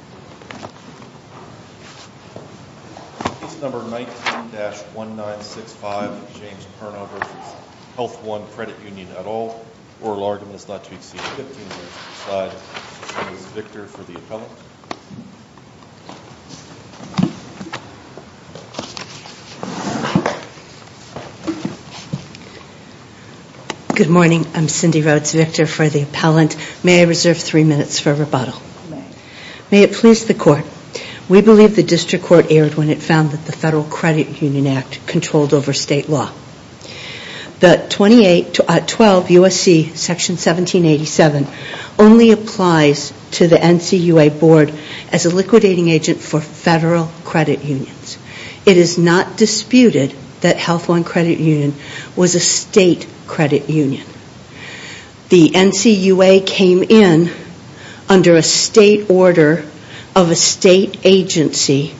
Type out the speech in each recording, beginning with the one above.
Good morning, I'm Cindy Rhodes, Victor for the Appellant. May I reserve three minutes for rebuttal? May it please the Court. We believe the District Court erred when it found that the Federal Credit Union Act controlled over State law. The 2812 U.S.C. Section 1787 only applies to the NCUA Board as a liquidating agent for Federal Credit Unions. It is not under a State order of a State agency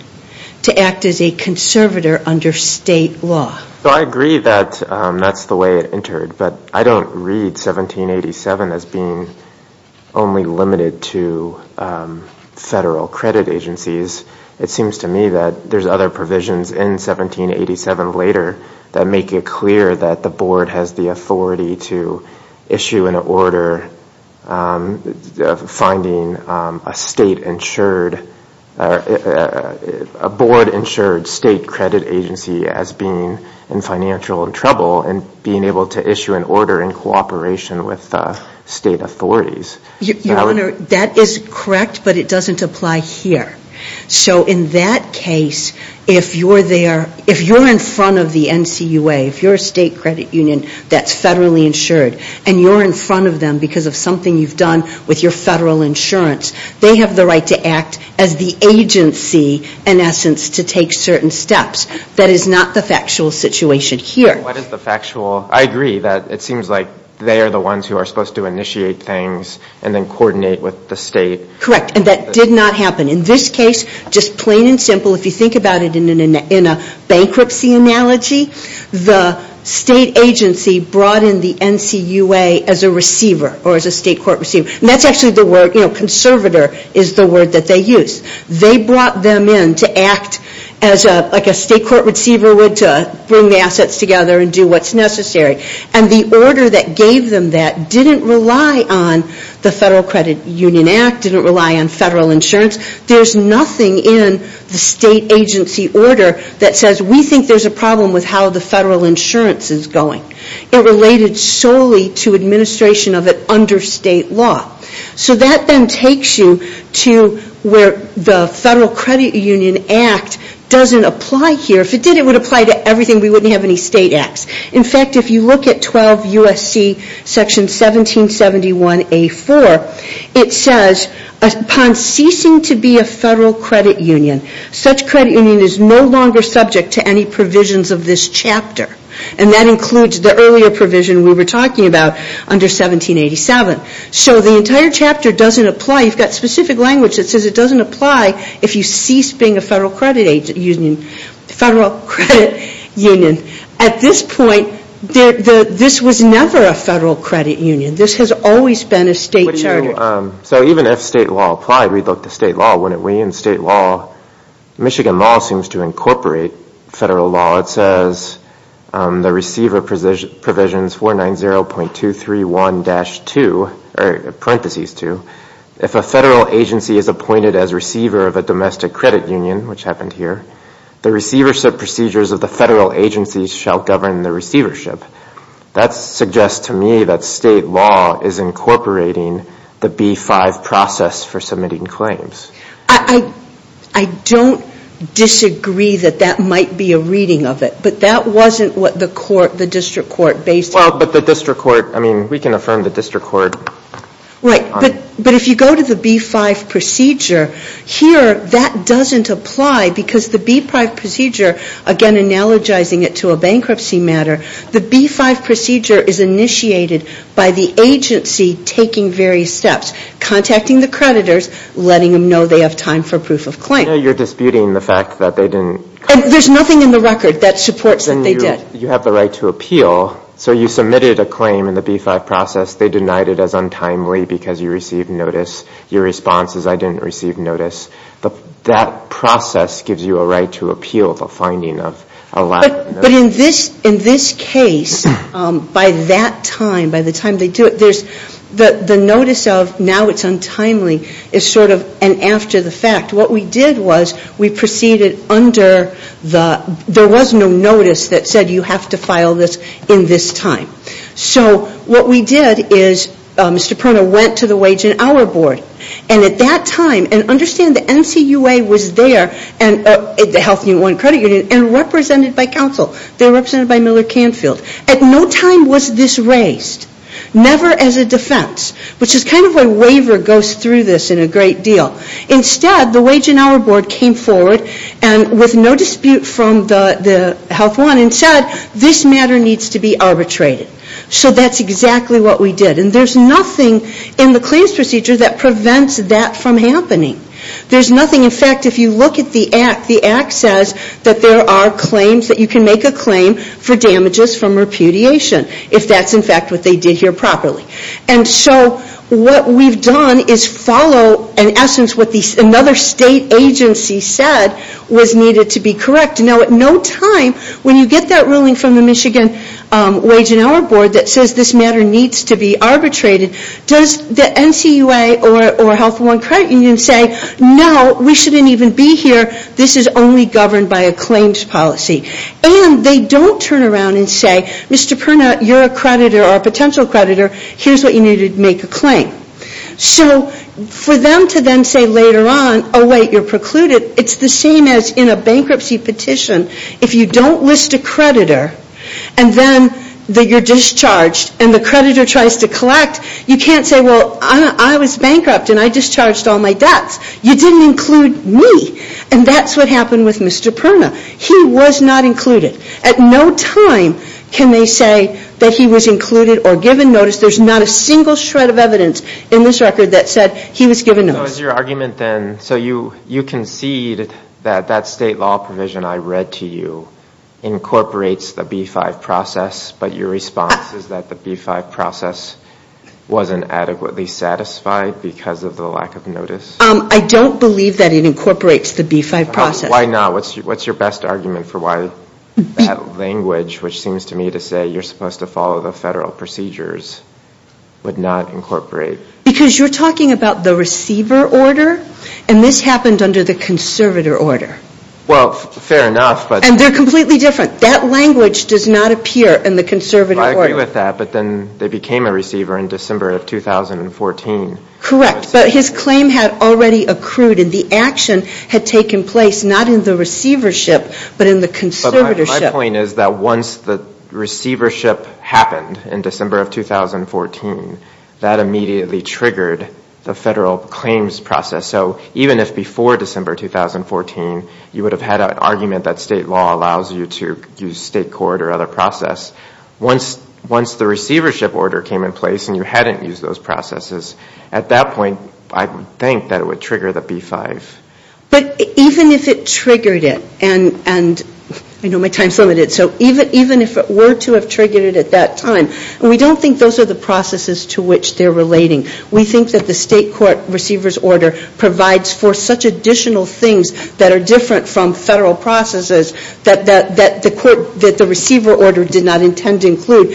to act as a conservator under State law. So I agree that that's the way it entered, but I don't read 1787 as being only limited to Federal Credit Agencies. It seems to me that there's other provisions in 1787 later clear that the Board has the authority to issue an order finding a Board-insured State credit agency as being in financial trouble and being able to issue an order in cooperation with State authorities. Your Honor, that is correct, but it doesn't apply here. So in that case, if you're in front of the NCUA, if you're a State credit union that's Federally insured, and you're in front of them because of something you've done with your Federal insurance, they have the right to act as the agency, in essence, to take certain steps. That is not the factual situation here. What is the factual? I agree that it seems like they are the ones who are supposed to initiate things and then coordinate with the State. Correct. And that did not happen. In this case, just plain and simple, if you think about it in a bankruptcy analogy, the State agency brought in the NCUA as a receiver or as a State court receiver. And that's actually the word, you know, conservator is the word that they use. They brought them in to act like a State court receiver would to bring the assets together and do what's necessary. And the order that gave them that didn't rely on the Federal Credit Union Act, didn't in the State agency order that says, we think there's a problem with how the Federal insurance is going. It related solely to administration of it under State law. So that then takes you to where the Federal Credit Union Act doesn't apply here. If it did, it would apply to everything. We wouldn't have any State acts. In fact, if you look at 12 U.S.C. section 1771A4, it says, upon ceasing to be a Federal credit union, such credit union is no longer subject to any provisions of this chapter. And that includes the earlier provision we were talking about under 1787. So the entire chapter doesn't apply. You've got specific language that says it doesn't apply if you cease being a Federal credit union. At this point, this was never a Federal credit union. This has always been a State charter. So even if State law applied, we'd look to State law, wouldn't we? And State law, Michigan law seems to incorporate Federal law. It says the receiver provisions 490.231-2, or the receiver of a domestic credit union, which happened here, the receivership procedures of the Federal agencies shall govern the receivership. That suggests to me that State law is incorporating the B-5 process for submitting claims. I don't disagree that that might be a reading of it. But that wasn't what the court, the district court, based Well, but the district court, I mean, we can affirm the district court Right. But if you go to the B-5 procedure, here that doesn't apply because the B-5 procedure, again analogizing it to a bankruptcy matter, the B-5 procedure is initiated by the agency taking various steps, contacting the creditors, letting them know they have time for proof of claim. You're disputing the fact that they didn't There's nothing in the record that supports that they did. You have the right to appeal. So you submitted a claim in the B-5 process. They denied it as untimely because you received notice. Your response is I didn't receive notice. That process gives you a right to appeal the finding of a lack of notice. But in this case, by that time, by the time they do it, the notice of now it's untimely is sort of an after the fact. What we did was we proceeded under the, there was no notice that said you have to file this in this time. So what we did is Mr. Perna went to the Wage and Hour Board. And at that time, and understand the NCUA was there, the Health Unit 1 Credit Union, and represented by counsel. They were represented by Miller Canfield. At no time was this raised, never as a defense, which is kind of why waiver goes through this in a great deal. Instead, the Wage and Hour Board came forward with no dispute from the Health 1 and said this matter needs to be arbitrated. So that's exactly what we did. And there's nothing in the claims procedure that prevents that from happening. There's nothing, in fact, if you look at the Act, the Act says that there are claims that you can make a claim for damages from repudiation if that's in fact what they did here properly. And so what we've done is follow, in essence, what another state agency said was needed to be correct. Now at no time, when you get that ruling from the Michigan Wage and Hour Board that says this matter needs to be arbitrated, does the NCUA or Health 1 Credit Union say no, we shouldn't even be here, this is only governed by a claims policy. And they don't turn around and say, Mr. Perna, you're a creditor or a potential creditor, here's what you need to make a claim. So for them to then say later on, oh wait, you're precluded, it's the same as in a bankruptcy petition. If you don't list a creditor and then you're discharged and the creditor tries to collect, you can't say, well, I was bankrupt and I discharged all my debts. You didn't include me. And that's what happened with At no time can they say that he was included or given notice. There's not a single shred of evidence in this record that said he was given notice. So is your argument then, so you concede that that state law provision I read to you incorporates the B-5 process, but your response is that the B-5 process wasn't adequately satisfied because of the lack of notice? I don't believe that it incorporates the B-5 process. Why not? What's your best argument for why that language, which seems to me to say you're supposed to follow the federal procedures, would not incorporate? Because you're talking about the receiver order, and this happened under the conservator order. Well, fair enough, but And they're completely different. That language does not appear in the conservator order. I agree with that, but then they became a receiver in December of 2014. Correct, but his claim had already accrued, and the action had taken place not in the receivership, but in the conservatorship. But my point is that once the receivership happened in December of 2014, that immediately triggered the federal claims process. So even if before December 2014 you would have had an argument that state law allows you to use state court or other process, once the receivership order came in place and you hadn't used those processes, at that point I would think that it would trigger the B-5. But even if it triggered it, and I know my time is limited, so even if it were to have triggered it at that time, we don't think those are the processes to which they're relating. We think that the state court receivers order provides for such additional things that are different from federal processes that the court, that the receiver order did not intend to trigger.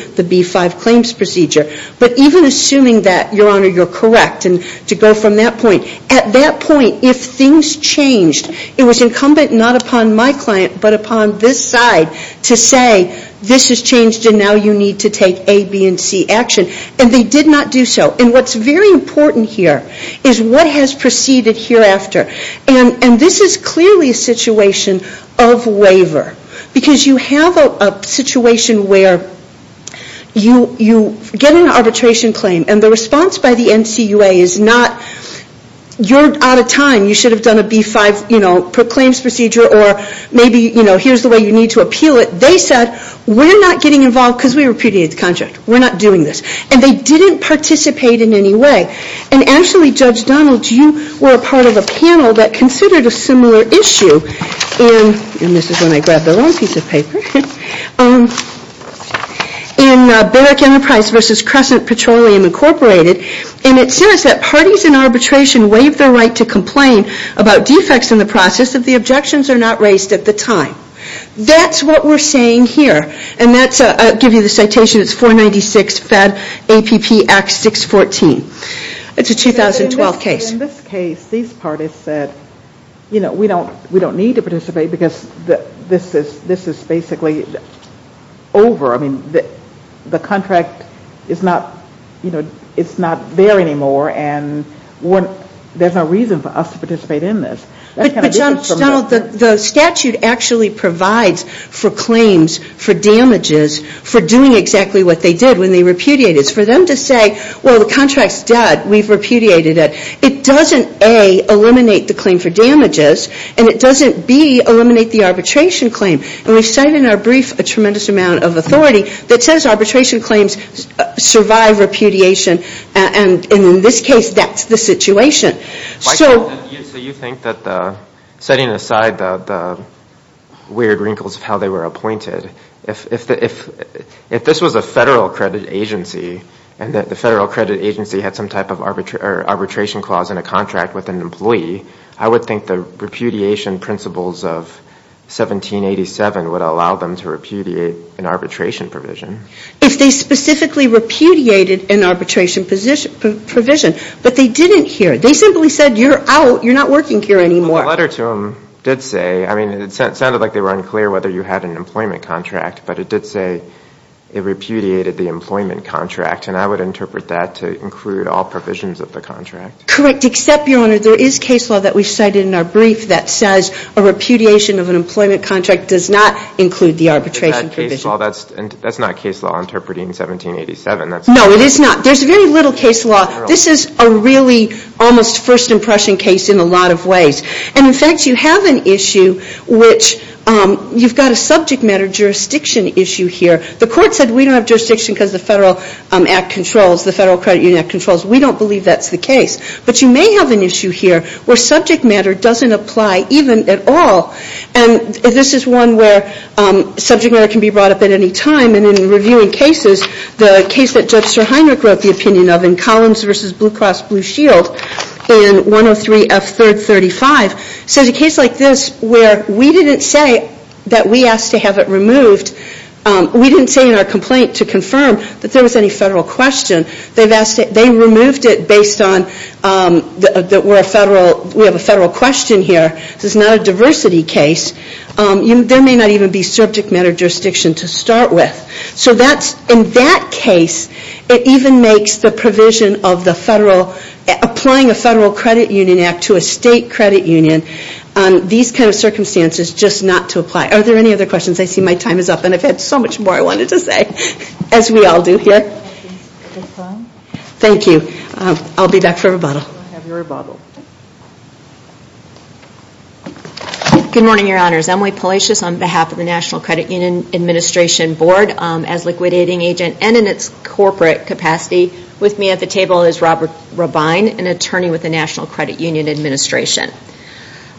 But even assuming that, Your Honor, you're correct, and to go from that point, at that point, if things changed, it was incumbent not upon my client, but upon this side to say this has changed and now you need to take A, B, and C action. And they did not do so. And what's very important here is what has proceeded hereafter. And this is clearly a situation of waiver. Because you have a situation where you get an arbitration claim and the response by the NCUA is not, you're out of time, you should have done a B-5, you know, claims procedure or maybe, you know, here's the way you need to appeal it. They said, we're not getting involved because we repudiated the contract. We're not doing this. And they didn't participate in any way. And actually, Judge Donald, you were a part of a panel that considered a similar issue in, and this is when I grabbed the wrong piece of paper, in Barrick Enterprise versus Crescent Petroleum Incorporated. And it says that parties in arbitration waive their right to complain about defects in the process if the objections are not raised at the time. That's what we're saying here. And that's, I'll give you the citation, it's 496 FED APP Act 614. It's a 2012 case. In this case, these parties said, you know, we don't need to participate because this is basically over. I mean, the contract is not, you know, it's not there anymore and there's no reason for us to participate in this. But, Judge Donald, the statute actually provides for claims for damages for doing exactly what they did when they repudiated. For them to say, well, the contract's dead. We've repudiated it. It doesn't, A, eliminate the claim for damages. And it doesn't, B, eliminate the arbitration claim. And we've cited in our brief a tremendous amount of authority that says arbitration claims survive repudiation. And in this case, that's the situation. So you think that the, setting aside the weird wrinkles of how they were appointed, if this was a federal credit agency and the federal credit agency had some type of arbitration clause in a contract with an employee, I would think the repudiation principles of 1787 would allow them to repudiate an arbitration provision. If they specifically repudiated an arbitration provision. But they didn't here. They simply said, you're out. You're not working here anymore. The letter to them did say, I mean, it sounded like they were unclear whether you had an employment contract. But it did say it repudiated the employment contract. And I would interpret that to include all provisions of the contract. Correct. Except, Your Honor, there is case law that we cited in our brief that says a repudiation of an employment contract does not include the arbitration provision. That's not case law interpreting 1787. No, it is not. There's very little case law. This is a really almost first impression case in a lot of ways. And in fact, you have an issue which, you've got a subject matter jurisdiction issue here. The court said we don't have jurisdiction because the Federal Act controls, the Federal Credit Union Act controls. We don't believe that's the case. But you may have an issue here where subject matter doesn't apply even at all. And this is one where subject matter can be brought up at any time. And in reviewing cases, the case that Judge Sir Heinrich wrote the opinion of in Collins v. Blue Cross Blue Shield, in 103 F. 3rd 35, says a case like this where we didn't say that we asked to have it removed. We didn't say in our complaint to confirm that there was any Federal question. They removed it based on that we're a Federal, we have a Federal question here. This is not a diversity case. There may not even be subject matter jurisdiction to start with. So that's, in that case, it even makes the provision of the Federal, applying a Federal Credit Union Act to a State Credit Union, these kind of circumstances just not to apply. Are there any other questions? I see my time is up and I've had so much more I wanted to say, as we all do here. Thank you. I'll be back for rebuttal. Good morning, Your Honors. Emily Palacios on behalf of the National Credit Union Administration Board as liquidating agent and in its corporate capacity with me at the table is Robert Robine, an attorney with the National Credit Union Administration.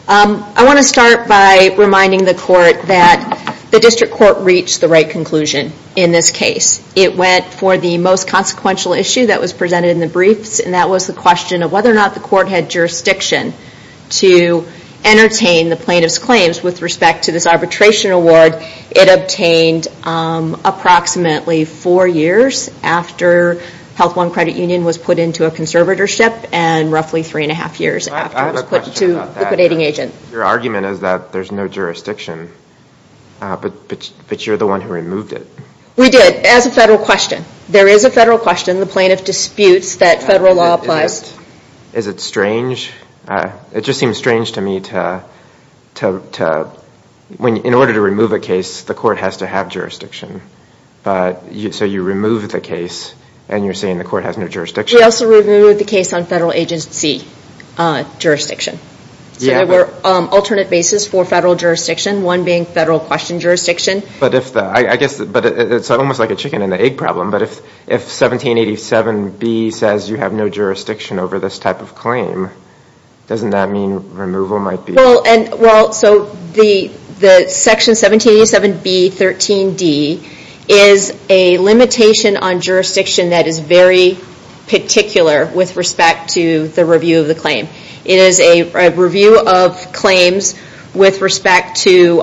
I want to start by reminding the Court that the District Court reached the right conclusion in this case. It went for the most consequential issue that was presented in the briefs, and that was the question of whether or not the Court had jurisdiction to entertain the plaintiff's claims with respect to this arbitration award it obtained approximately four years after Health Law and Credit Union was put into a conservatorship and roughly three and a half years after it was put into liquidating agent. Your argument is that there's no jurisdiction, but you're the one who removed it. We did, as a federal question. There is a federal question. The plaintiff disputes that federal law applies. Is it strange? It just seems strange to me to, in order to remove a case, the Court has to have jurisdiction. So you removed the case and you're saying the Court has no jurisdiction? We also removed the case on federal agency jurisdiction. So there were alternate bases for federal jurisdiction, one being federal question jurisdiction. I guess it's almost like a chicken and egg problem, but if 1787B says you have no jurisdiction over this type of claim, doesn't that mean removal might be? Well, so the section 1787B.13.d is a limitation on jurisdiction that is very particular with respect to the review of the claim. It is a review of claims with respect to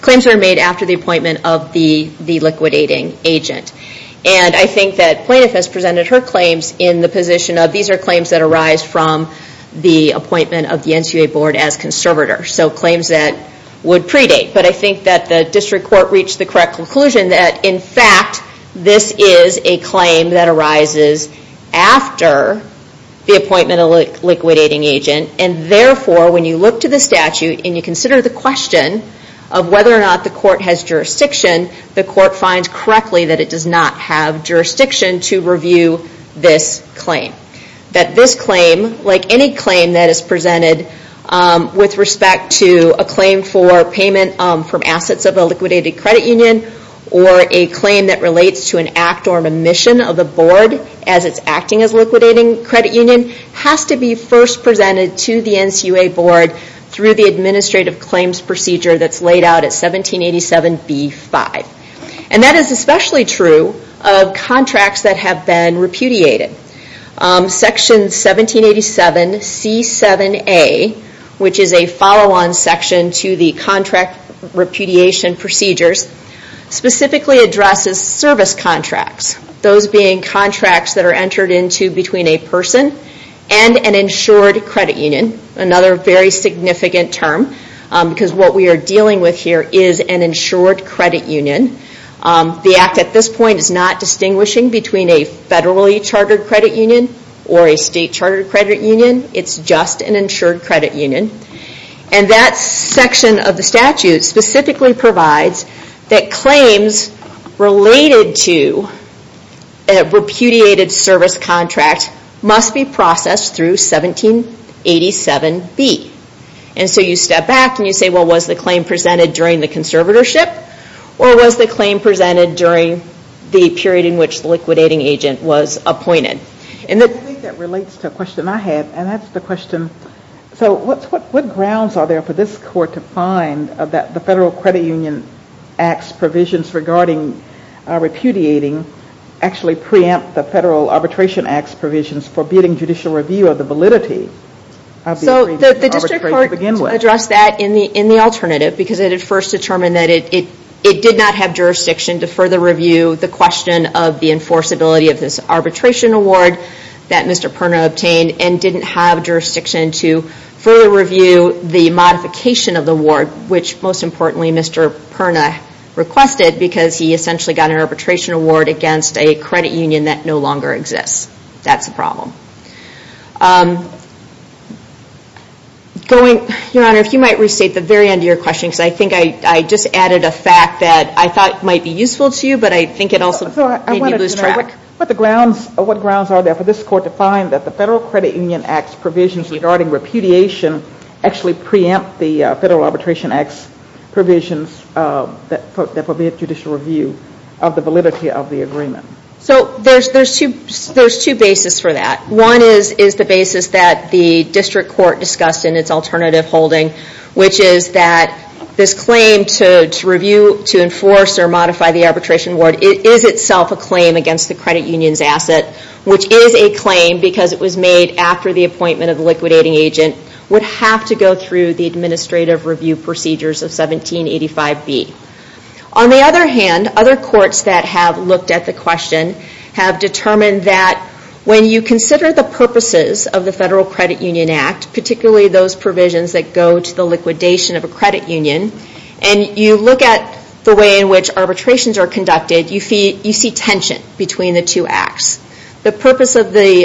claims that are made after the appointment of the liquidating agent. And I think that plaintiff has presented her claims in the position of these are claims that arise from the appointment of the NCA Board as conservators. So claims that would predate. But I think that the District Court reached the correct conclusion that, in fact, this is a claim that arises after the appointment of the liquidating agent. And, therefore, when you look to the statute and you consider the question of whether or not the Court has jurisdiction, the Court finds correctly that it does not have jurisdiction to review this claim. That this claim, like any claim that is presented with respect to a claim for payment from assets of a liquidated credit union, or a claim that relates to an act or an omission of the Board as it's acting as a liquidating credit union, has to be first presented to the NCA Board through the administrative claims procedure that's laid out at 1787B5. And that is especially true of contracts that have been repudiated. Section 1787C7A, which is a follow-on section to the contract repudiation procedures, specifically addresses service contracts, those being contracts that are entered into between a person and an insured credit union, another very significant term, because what we are dealing with here is an insured credit union. The Act at this point is not distinguishing between a federally chartered credit union or a state chartered credit union. It's just an insured credit union. And that section of the statute specifically provides that claims related to a repudiated service contract must be processed through 1787B. And so you step back and you say, well, was the claim presented during the conservatorship or was the claim presented during the period in which the liquidating agent was appointed? I think that relates to a question I had, and that's the question, so what grounds are there for this Court to find that the Federal Credit Union Act's provisions regarding repudiating actually preempt the Federal Arbitration Act's provisions forbidding judicial review of the validity of the arbitration to begin with? We have addressed that in the alternative because it had first determined that it did not have jurisdiction to further review the question of the enforceability of this arbitration award that Mr. Perna obtained and didn't have jurisdiction to further review the modification of the award, which most importantly Mr. Perna requested because he essentially got an arbitration award against a credit union that no longer exists. That's the problem. Your Honor, if you might restate the very end of your question because I think I just added a fact that I thought might be useful to you, but I think it also made me lose track. What grounds are there for this Court to find that the Federal Credit Union Act's provisions regarding repudiation actually preempt the Federal Arbitration Act's provisions that forbid judicial review of the validity of the agreement? So there's two bases for that. One is the basis that the District Court discussed in its alternative holding, which is that this claim to enforce or modify the arbitration award is itself a claim against the credit union's asset, which is a claim because it was made after the appointment of the liquidating agent, would have to go through the administrative review procedures of 1785B. On the other hand, other courts that have looked at the question have determined that when you consider the purposes of the Federal Credit Union Act, particularly those provisions that go to the liquidation of a credit union, and you look at the way in which arbitrations are conducted, you see tension between the two acts. The purpose of the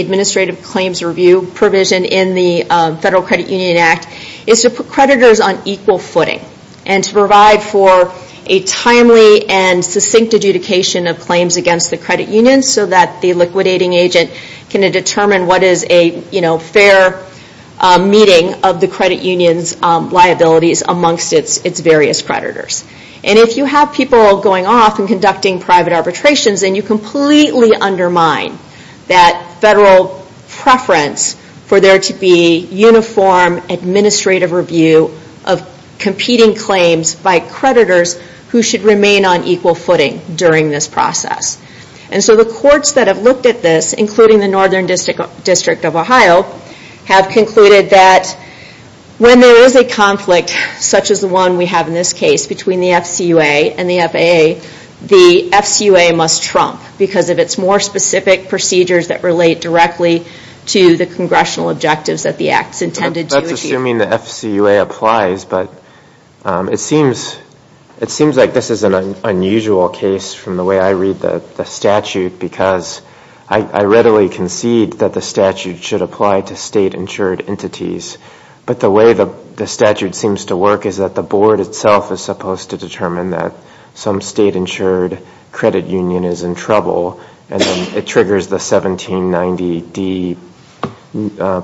administrative claims review provision in the Federal Credit Union Act is to put creditors on equal footing and to provide for a timely and succinct adjudication of claims against the credit union so that the liquidating agent can determine what is a fair meeting of the credit union's liabilities amongst its various creditors. And if you have people going off and conducting private arbitrations, then you completely undermine that Federal preference for there to be uniform administrative review of competing claims by creditors who should remain on equal footing during this process. And so the courts that have looked at this, including the Northern District of Ohio, have concluded that when there is a conflict such as the one we have in this case between the FCUA and the FAA, the FCUA must trump because of its more specific procedures that relate directly to the congressional objectives that the act is intended to achieve. That's assuming the FCUA applies, but it seems like this is an unusual case from the way I read the statute because I readily concede that the statute should apply to state-insured entities. But the way the statute seems to work is that the board itself is supposed to determine and then it triggers the 1790D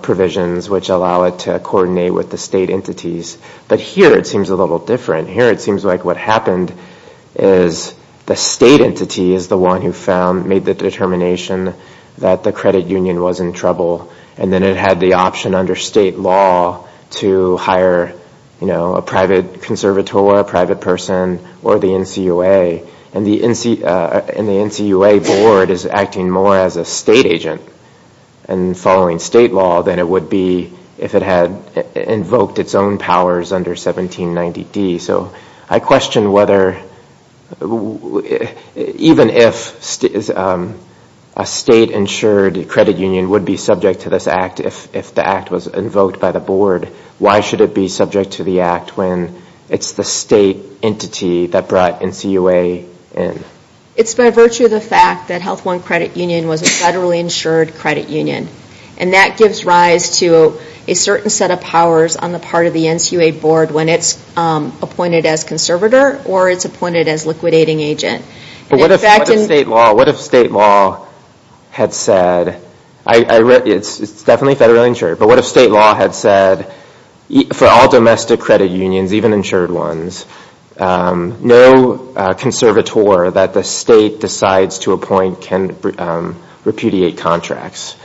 provisions, which allow it to coordinate with the state entities. But here it seems a little different. Here it seems like what happened is the state entity is the one who found, made the determination that the credit union was in trouble, and then it had the option under state law to hire a private conservator, a private person, or the NCUA. And the NCUA board is acting more as a state agent and following state law than it would be if it had invoked its own powers under 1790D. So I question whether, even if a state-insured credit union would be subject to this act, if the act was invoked by the board, why should it be subject to the act when it's the state entity that brought NCUA in? It's by virtue of the fact that Health One Credit Union was a federally insured credit union. And that gives rise to a certain set of powers on the part of the NCUA board when it's appointed as conservator or it's appointed as liquidating agent. But what if state law had said, it's definitely federally insured, but what if state law had said for all domestic credit unions, even insured ones, no conservator that the state decides to appoint can repudiate contracts?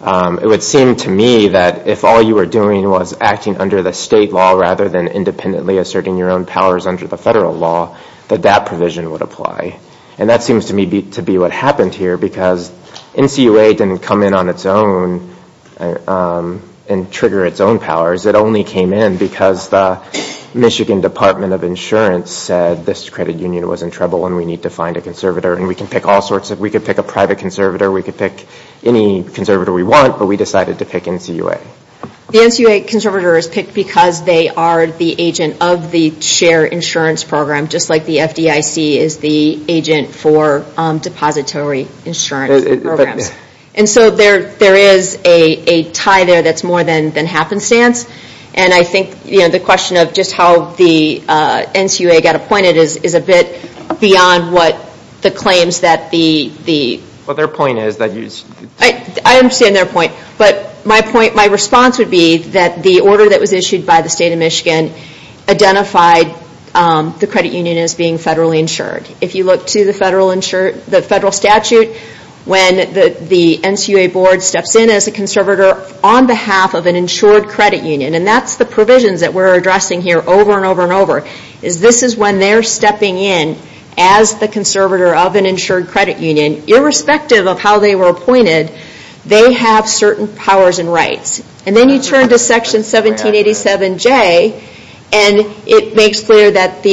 It would seem to me that if all you were doing was acting under the state law rather than independently asserting your own powers under the federal law, that that provision would apply. And that seems to me to be what happened here, because NCUA didn't come in on its own and trigger its own powers. It only came in because the Michigan Department of Insurance said, this credit union was in trouble and we need to find a conservator. And we can pick all sorts of, we could pick a private conservator, we could pick any conservator we want, but we decided to pick NCUA. The NCUA conservator is picked because they are the agent of the share insurance program, just like the FDIC is the agent for depository insurance programs. And so there is a tie there that's more than happenstance. And I think the question of just how the NCUA got appointed is a bit beyond what the claims that the... Well, their point is that... I understand their point, but my point, my response would be that the order that was issued by the state of Michigan identified the credit union as being federally insured. If you look to the federal statute, when the NCUA board steps in as a conservator on behalf of an insured credit union, and that's the provisions that we're addressing here over and over and over, is this is when they're stepping in as the conservator of an insured credit union, irrespective of how they were appointed, they have certain powers and rights. And then you turn to section 1787J, and it makes clear that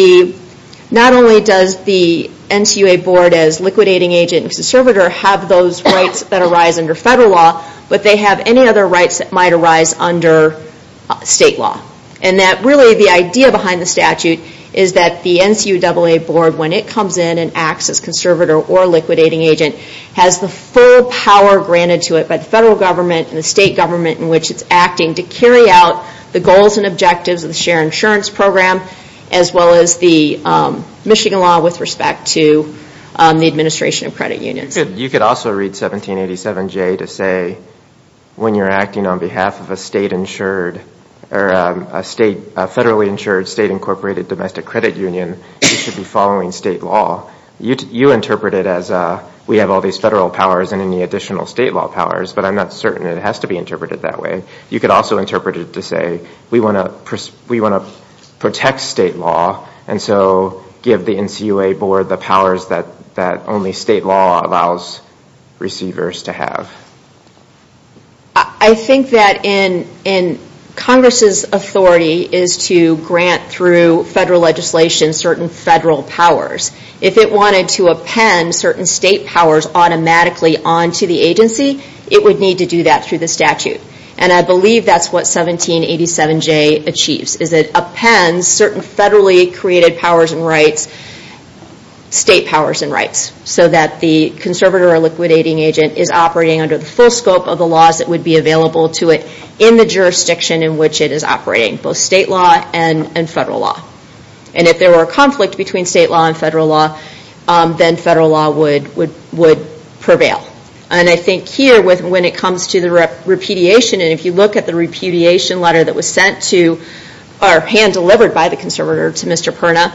not only does the NCUA board as liquidating agent and conservator have those rights that arise under federal law, but they have any other rights that might arise under state law. And that really the idea behind the statute is that the NCUA board, when it comes in and acts as conservator or liquidating agent, has the full power granted to it by the federal government and the state government in which it's acting to carry out the goals and objectives of the shared insurance program as well as the Michigan law with respect to the administration of credit unions. You could also read 1787J to say when you're acting on behalf of a state insured or a federally insured state incorporated domestic credit union, you should be following state law. You interpret it as we have all these federal powers and any additional state law powers, but I'm not certain it has to be interpreted that way. You could also interpret it to say we want to protect state law, and so give the NCUA board the powers that only state law allows receivers to have. I think that in Congress's authority is to grant through federal legislation certain federal powers. If it wanted to append certain state powers automatically onto the agency, it would need to do that through the statute. I believe that's what 1787J achieves. It appends certain federally created powers and rights, state powers and rights, so that the conservator or liquidating agent is operating under the full scope of the laws that would be available to it in the jurisdiction in which it is operating, both state law and federal law. If there were a conflict between state law and federal law, then federal law would prevail. I think here when it comes to the repudiation, and if you look at the repudiation letter that was sent to or hand-delivered by the conservator to Mr. Perna,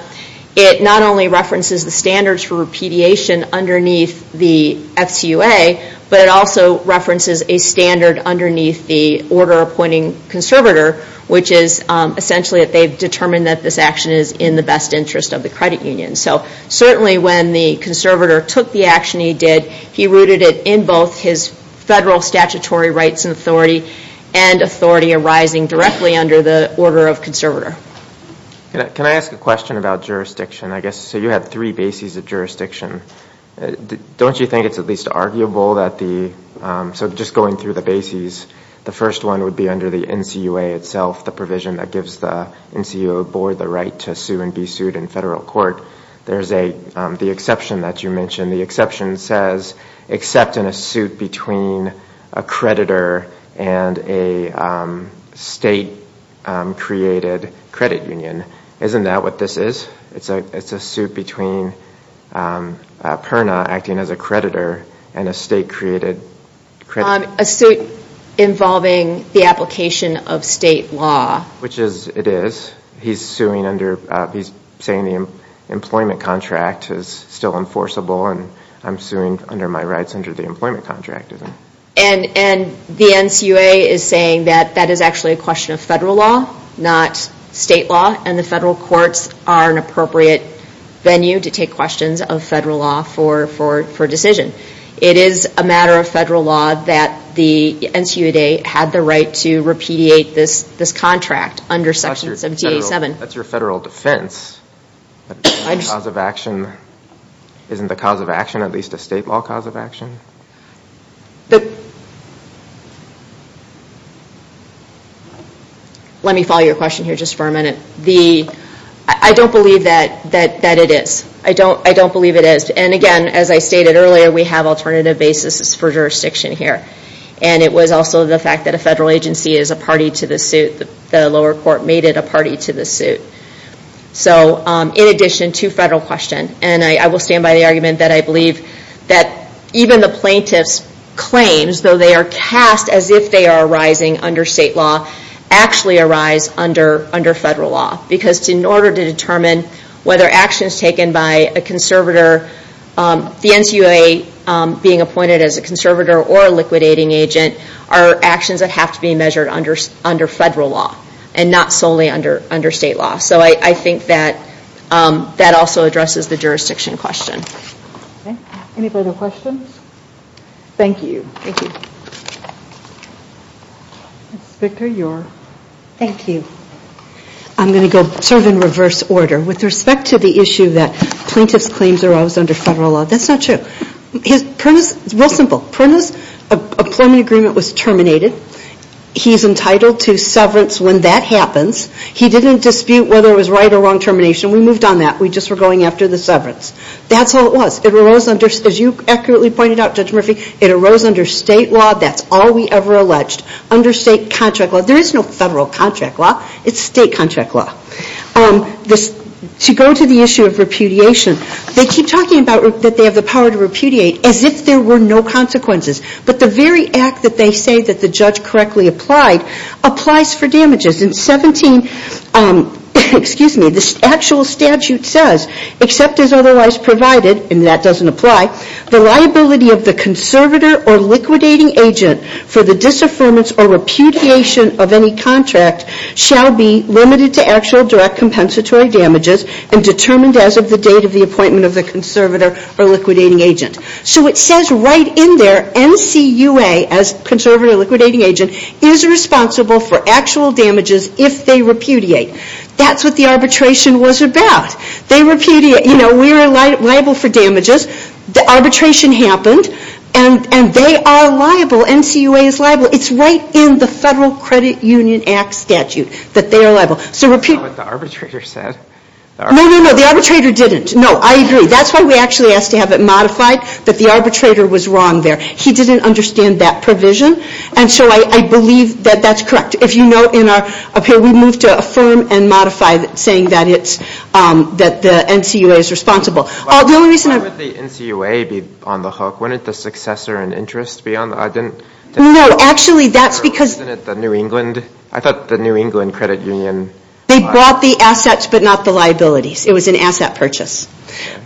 it not only references the standards for repudiation underneath the FCUA, but it also references a standard underneath the order appointing conservator, which is essentially that they've determined that this action is in the best interest of the credit union. So certainly when the conservator took the action he did, he rooted it in both his federal statutory rights and authority and authority arising directly under the order of conservator. Can I ask a question about jurisdiction? I guess, so you have three bases of jurisdiction. Don't you think it's at least arguable that the, so just going through the bases, the first one would be under the NCUA itself, the provision that gives the NCUA board the right to sue and be sued in federal court. There's the exception that you mentioned. The exception says except in a suit between a creditor and a state-created credit union. Isn't that what this is? It's a suit between Perna acting as a creditor and a state-created credit union. A suit involving the application of state law. Which it is. He's saying the employment contract is still enforceable and I'm suing under my rights under the employment contract. And the NCUA is saying that that is actually a question of federal law, not state law, and the federal courts are an appropriate venue to take questions of federal law for decision. It is a matter of federal law that the NCUA had the right to repudiate this contract under sections of DA 7. That's your federal defense. The cause of action, isn't the cause of action at least a state law cause of action? Let me follow your question here just for a minute. The, I don't believe that it is. I don't believe it is. And again, as I stated earlier, we have alternative bases for jurisdiction here. And it was also the fact that a federal agency is a party to the suit. The lower court made it a party to the suit. So, in addition to federal question, and I will stand by the argument that I believe that even the plaintiff's claims, though they are cast as if they are arising under state law, actually arise under federal law. Because in order to determine whether action is taken by a conservator, the NCUA being appointed as a conservator or a liquidating agent, are actions that have to be measured under federal law. And not solely under state law. So, I think that also addresses the jurisdiction question. Any further questions? Thank you. Thank you. Inspector, you're. Thank you. I'm going to go serve in reverse order. With respect to the issue that plaintiff's claims arose under federal law, that's not true. His premise is real simple. Permanent employment agreement was terminated. He's entitled to severance when that happens. He didn't dispute whether it was right or wrong termination. We moved on that. We just were going after the severance. That's all it was. It arose under, as you accurately pointed out, Judge Murphy, it arose under state law. That's all we ever alleged. Under state contract law. There is no federal contract law. It's state contract law. To go to the issue of repudiation, they keep talking about that they have the power to repudiate as if there were no consequences. But the very act that they say that the judge correctly applied, applies for damages. In 17, excuse me, the actual statute says, except as otherwise provided, and that doesn't apply, the liability of the conservator or liquidating agent for the disaffirmance or repudiation of any contract shall be limited to actual direct compensatory damages and determined as of the date of the appointment of the conservator or liquidating agent. So it says right in there, NCUA, as conservator or liquidating agent, is responsible for actual damages if they repudiate. That's what the arbitration was about. They repudiate. You know, we are liable for damages. The arbitration happened. And they are liable. NCUA is liable. It's right in the Federal Credit Union Act statute that they are liable. That's not what the arbitrator said. No, no, no. The arbitrator didn't. No, I agree. That's why we actually asked to have it modified. But the arbitrator was wrong there. He didn't understand that provision. And so I believe that that's correct. If you note in our appeal, we moved to affirm and modify saying that it's, that the NCUA is responsible. Why would the NCUA be on the hook? Wouldn't the successor and interest be on the hook? No, actually that's because. Wasn't it the New England? I thought the New England Credit Union. They bought the assets but not the liabilities. It was an asset purchase.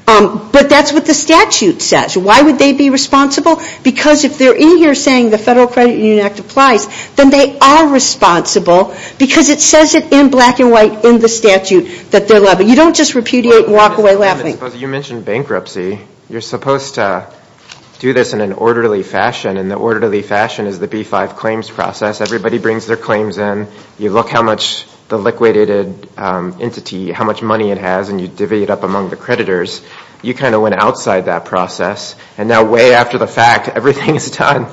But that's what the statute says. Why would they be responsible? Because if they're in here saying the Federal Credit Union Act applies, then they are responsible because it says it in black and white in the statute that they're liable. You don't just repudiate and walk away laughing. You mentioned bankruptcy. You're supposed to do this in an orderly fashion. And the orderly fashion is the B-5 claims process. Everybody brings their claims in. You look how much the liquidated entity, how much money it has, and you divvy it up among the creditors. You kind of went outside that process. And now way after the fact, everything is done.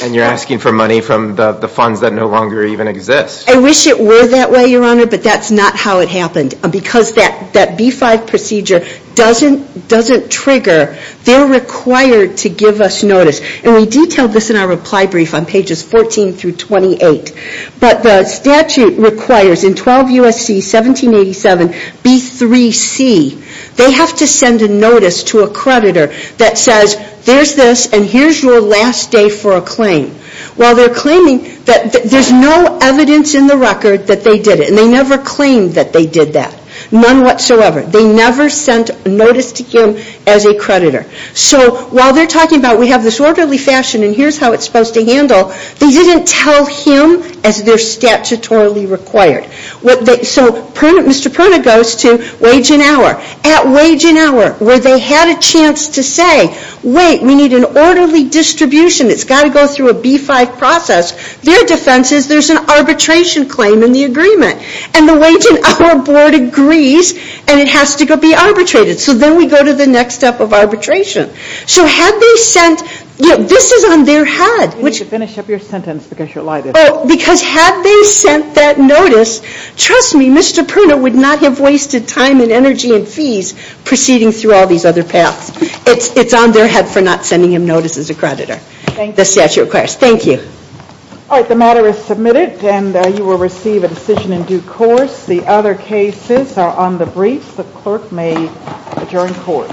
And you're asking for money from the funds that no longer even exist. I wish it were that way, Your Honor, but that's not how it happened. And because that B-5 procedure doesn't trigger, they're required to give us notice. And we detailed this in our reply brief on pages 14 through 28. But the statute requires in 12 U.S.C. 1787, B-3C, they have to send a notice to a creditor that says, there's this and here's your last day for a claim. While they're claiming that there's no evidence in the record that they did it. And they never claimed that they did that. None whatsoever. They never sent notice to him as a creditor. So while they're talking about we have this orderly fashion and here's how it's supposed to handle, they didn't tell him as they're statutorily required. So Mr. Perna goes to wage and hour. At wage and hour, where they had a chance to say, wait, we need an orderly distribution. It's got to go through a B-5 process. Their defense is there's an arbitration claim in the agreement. And the wage and hour board agrees and it has to be arbitrated. So then we go to the next step of arbitration. So had they sent, this is on their head. You need to finish up your sentence because you're live. Because had they sent that notice, trust me, Mr. Perna would not have wasted time and energy and fees proceeding through all these other paths. It's on their head for not sending him notice as a creditor. Thank you. The statute requires. Thank you. All right. The matter is submitted and you will receive a decision in due course. The other cases are on the briefs. The clerk may adjourn court.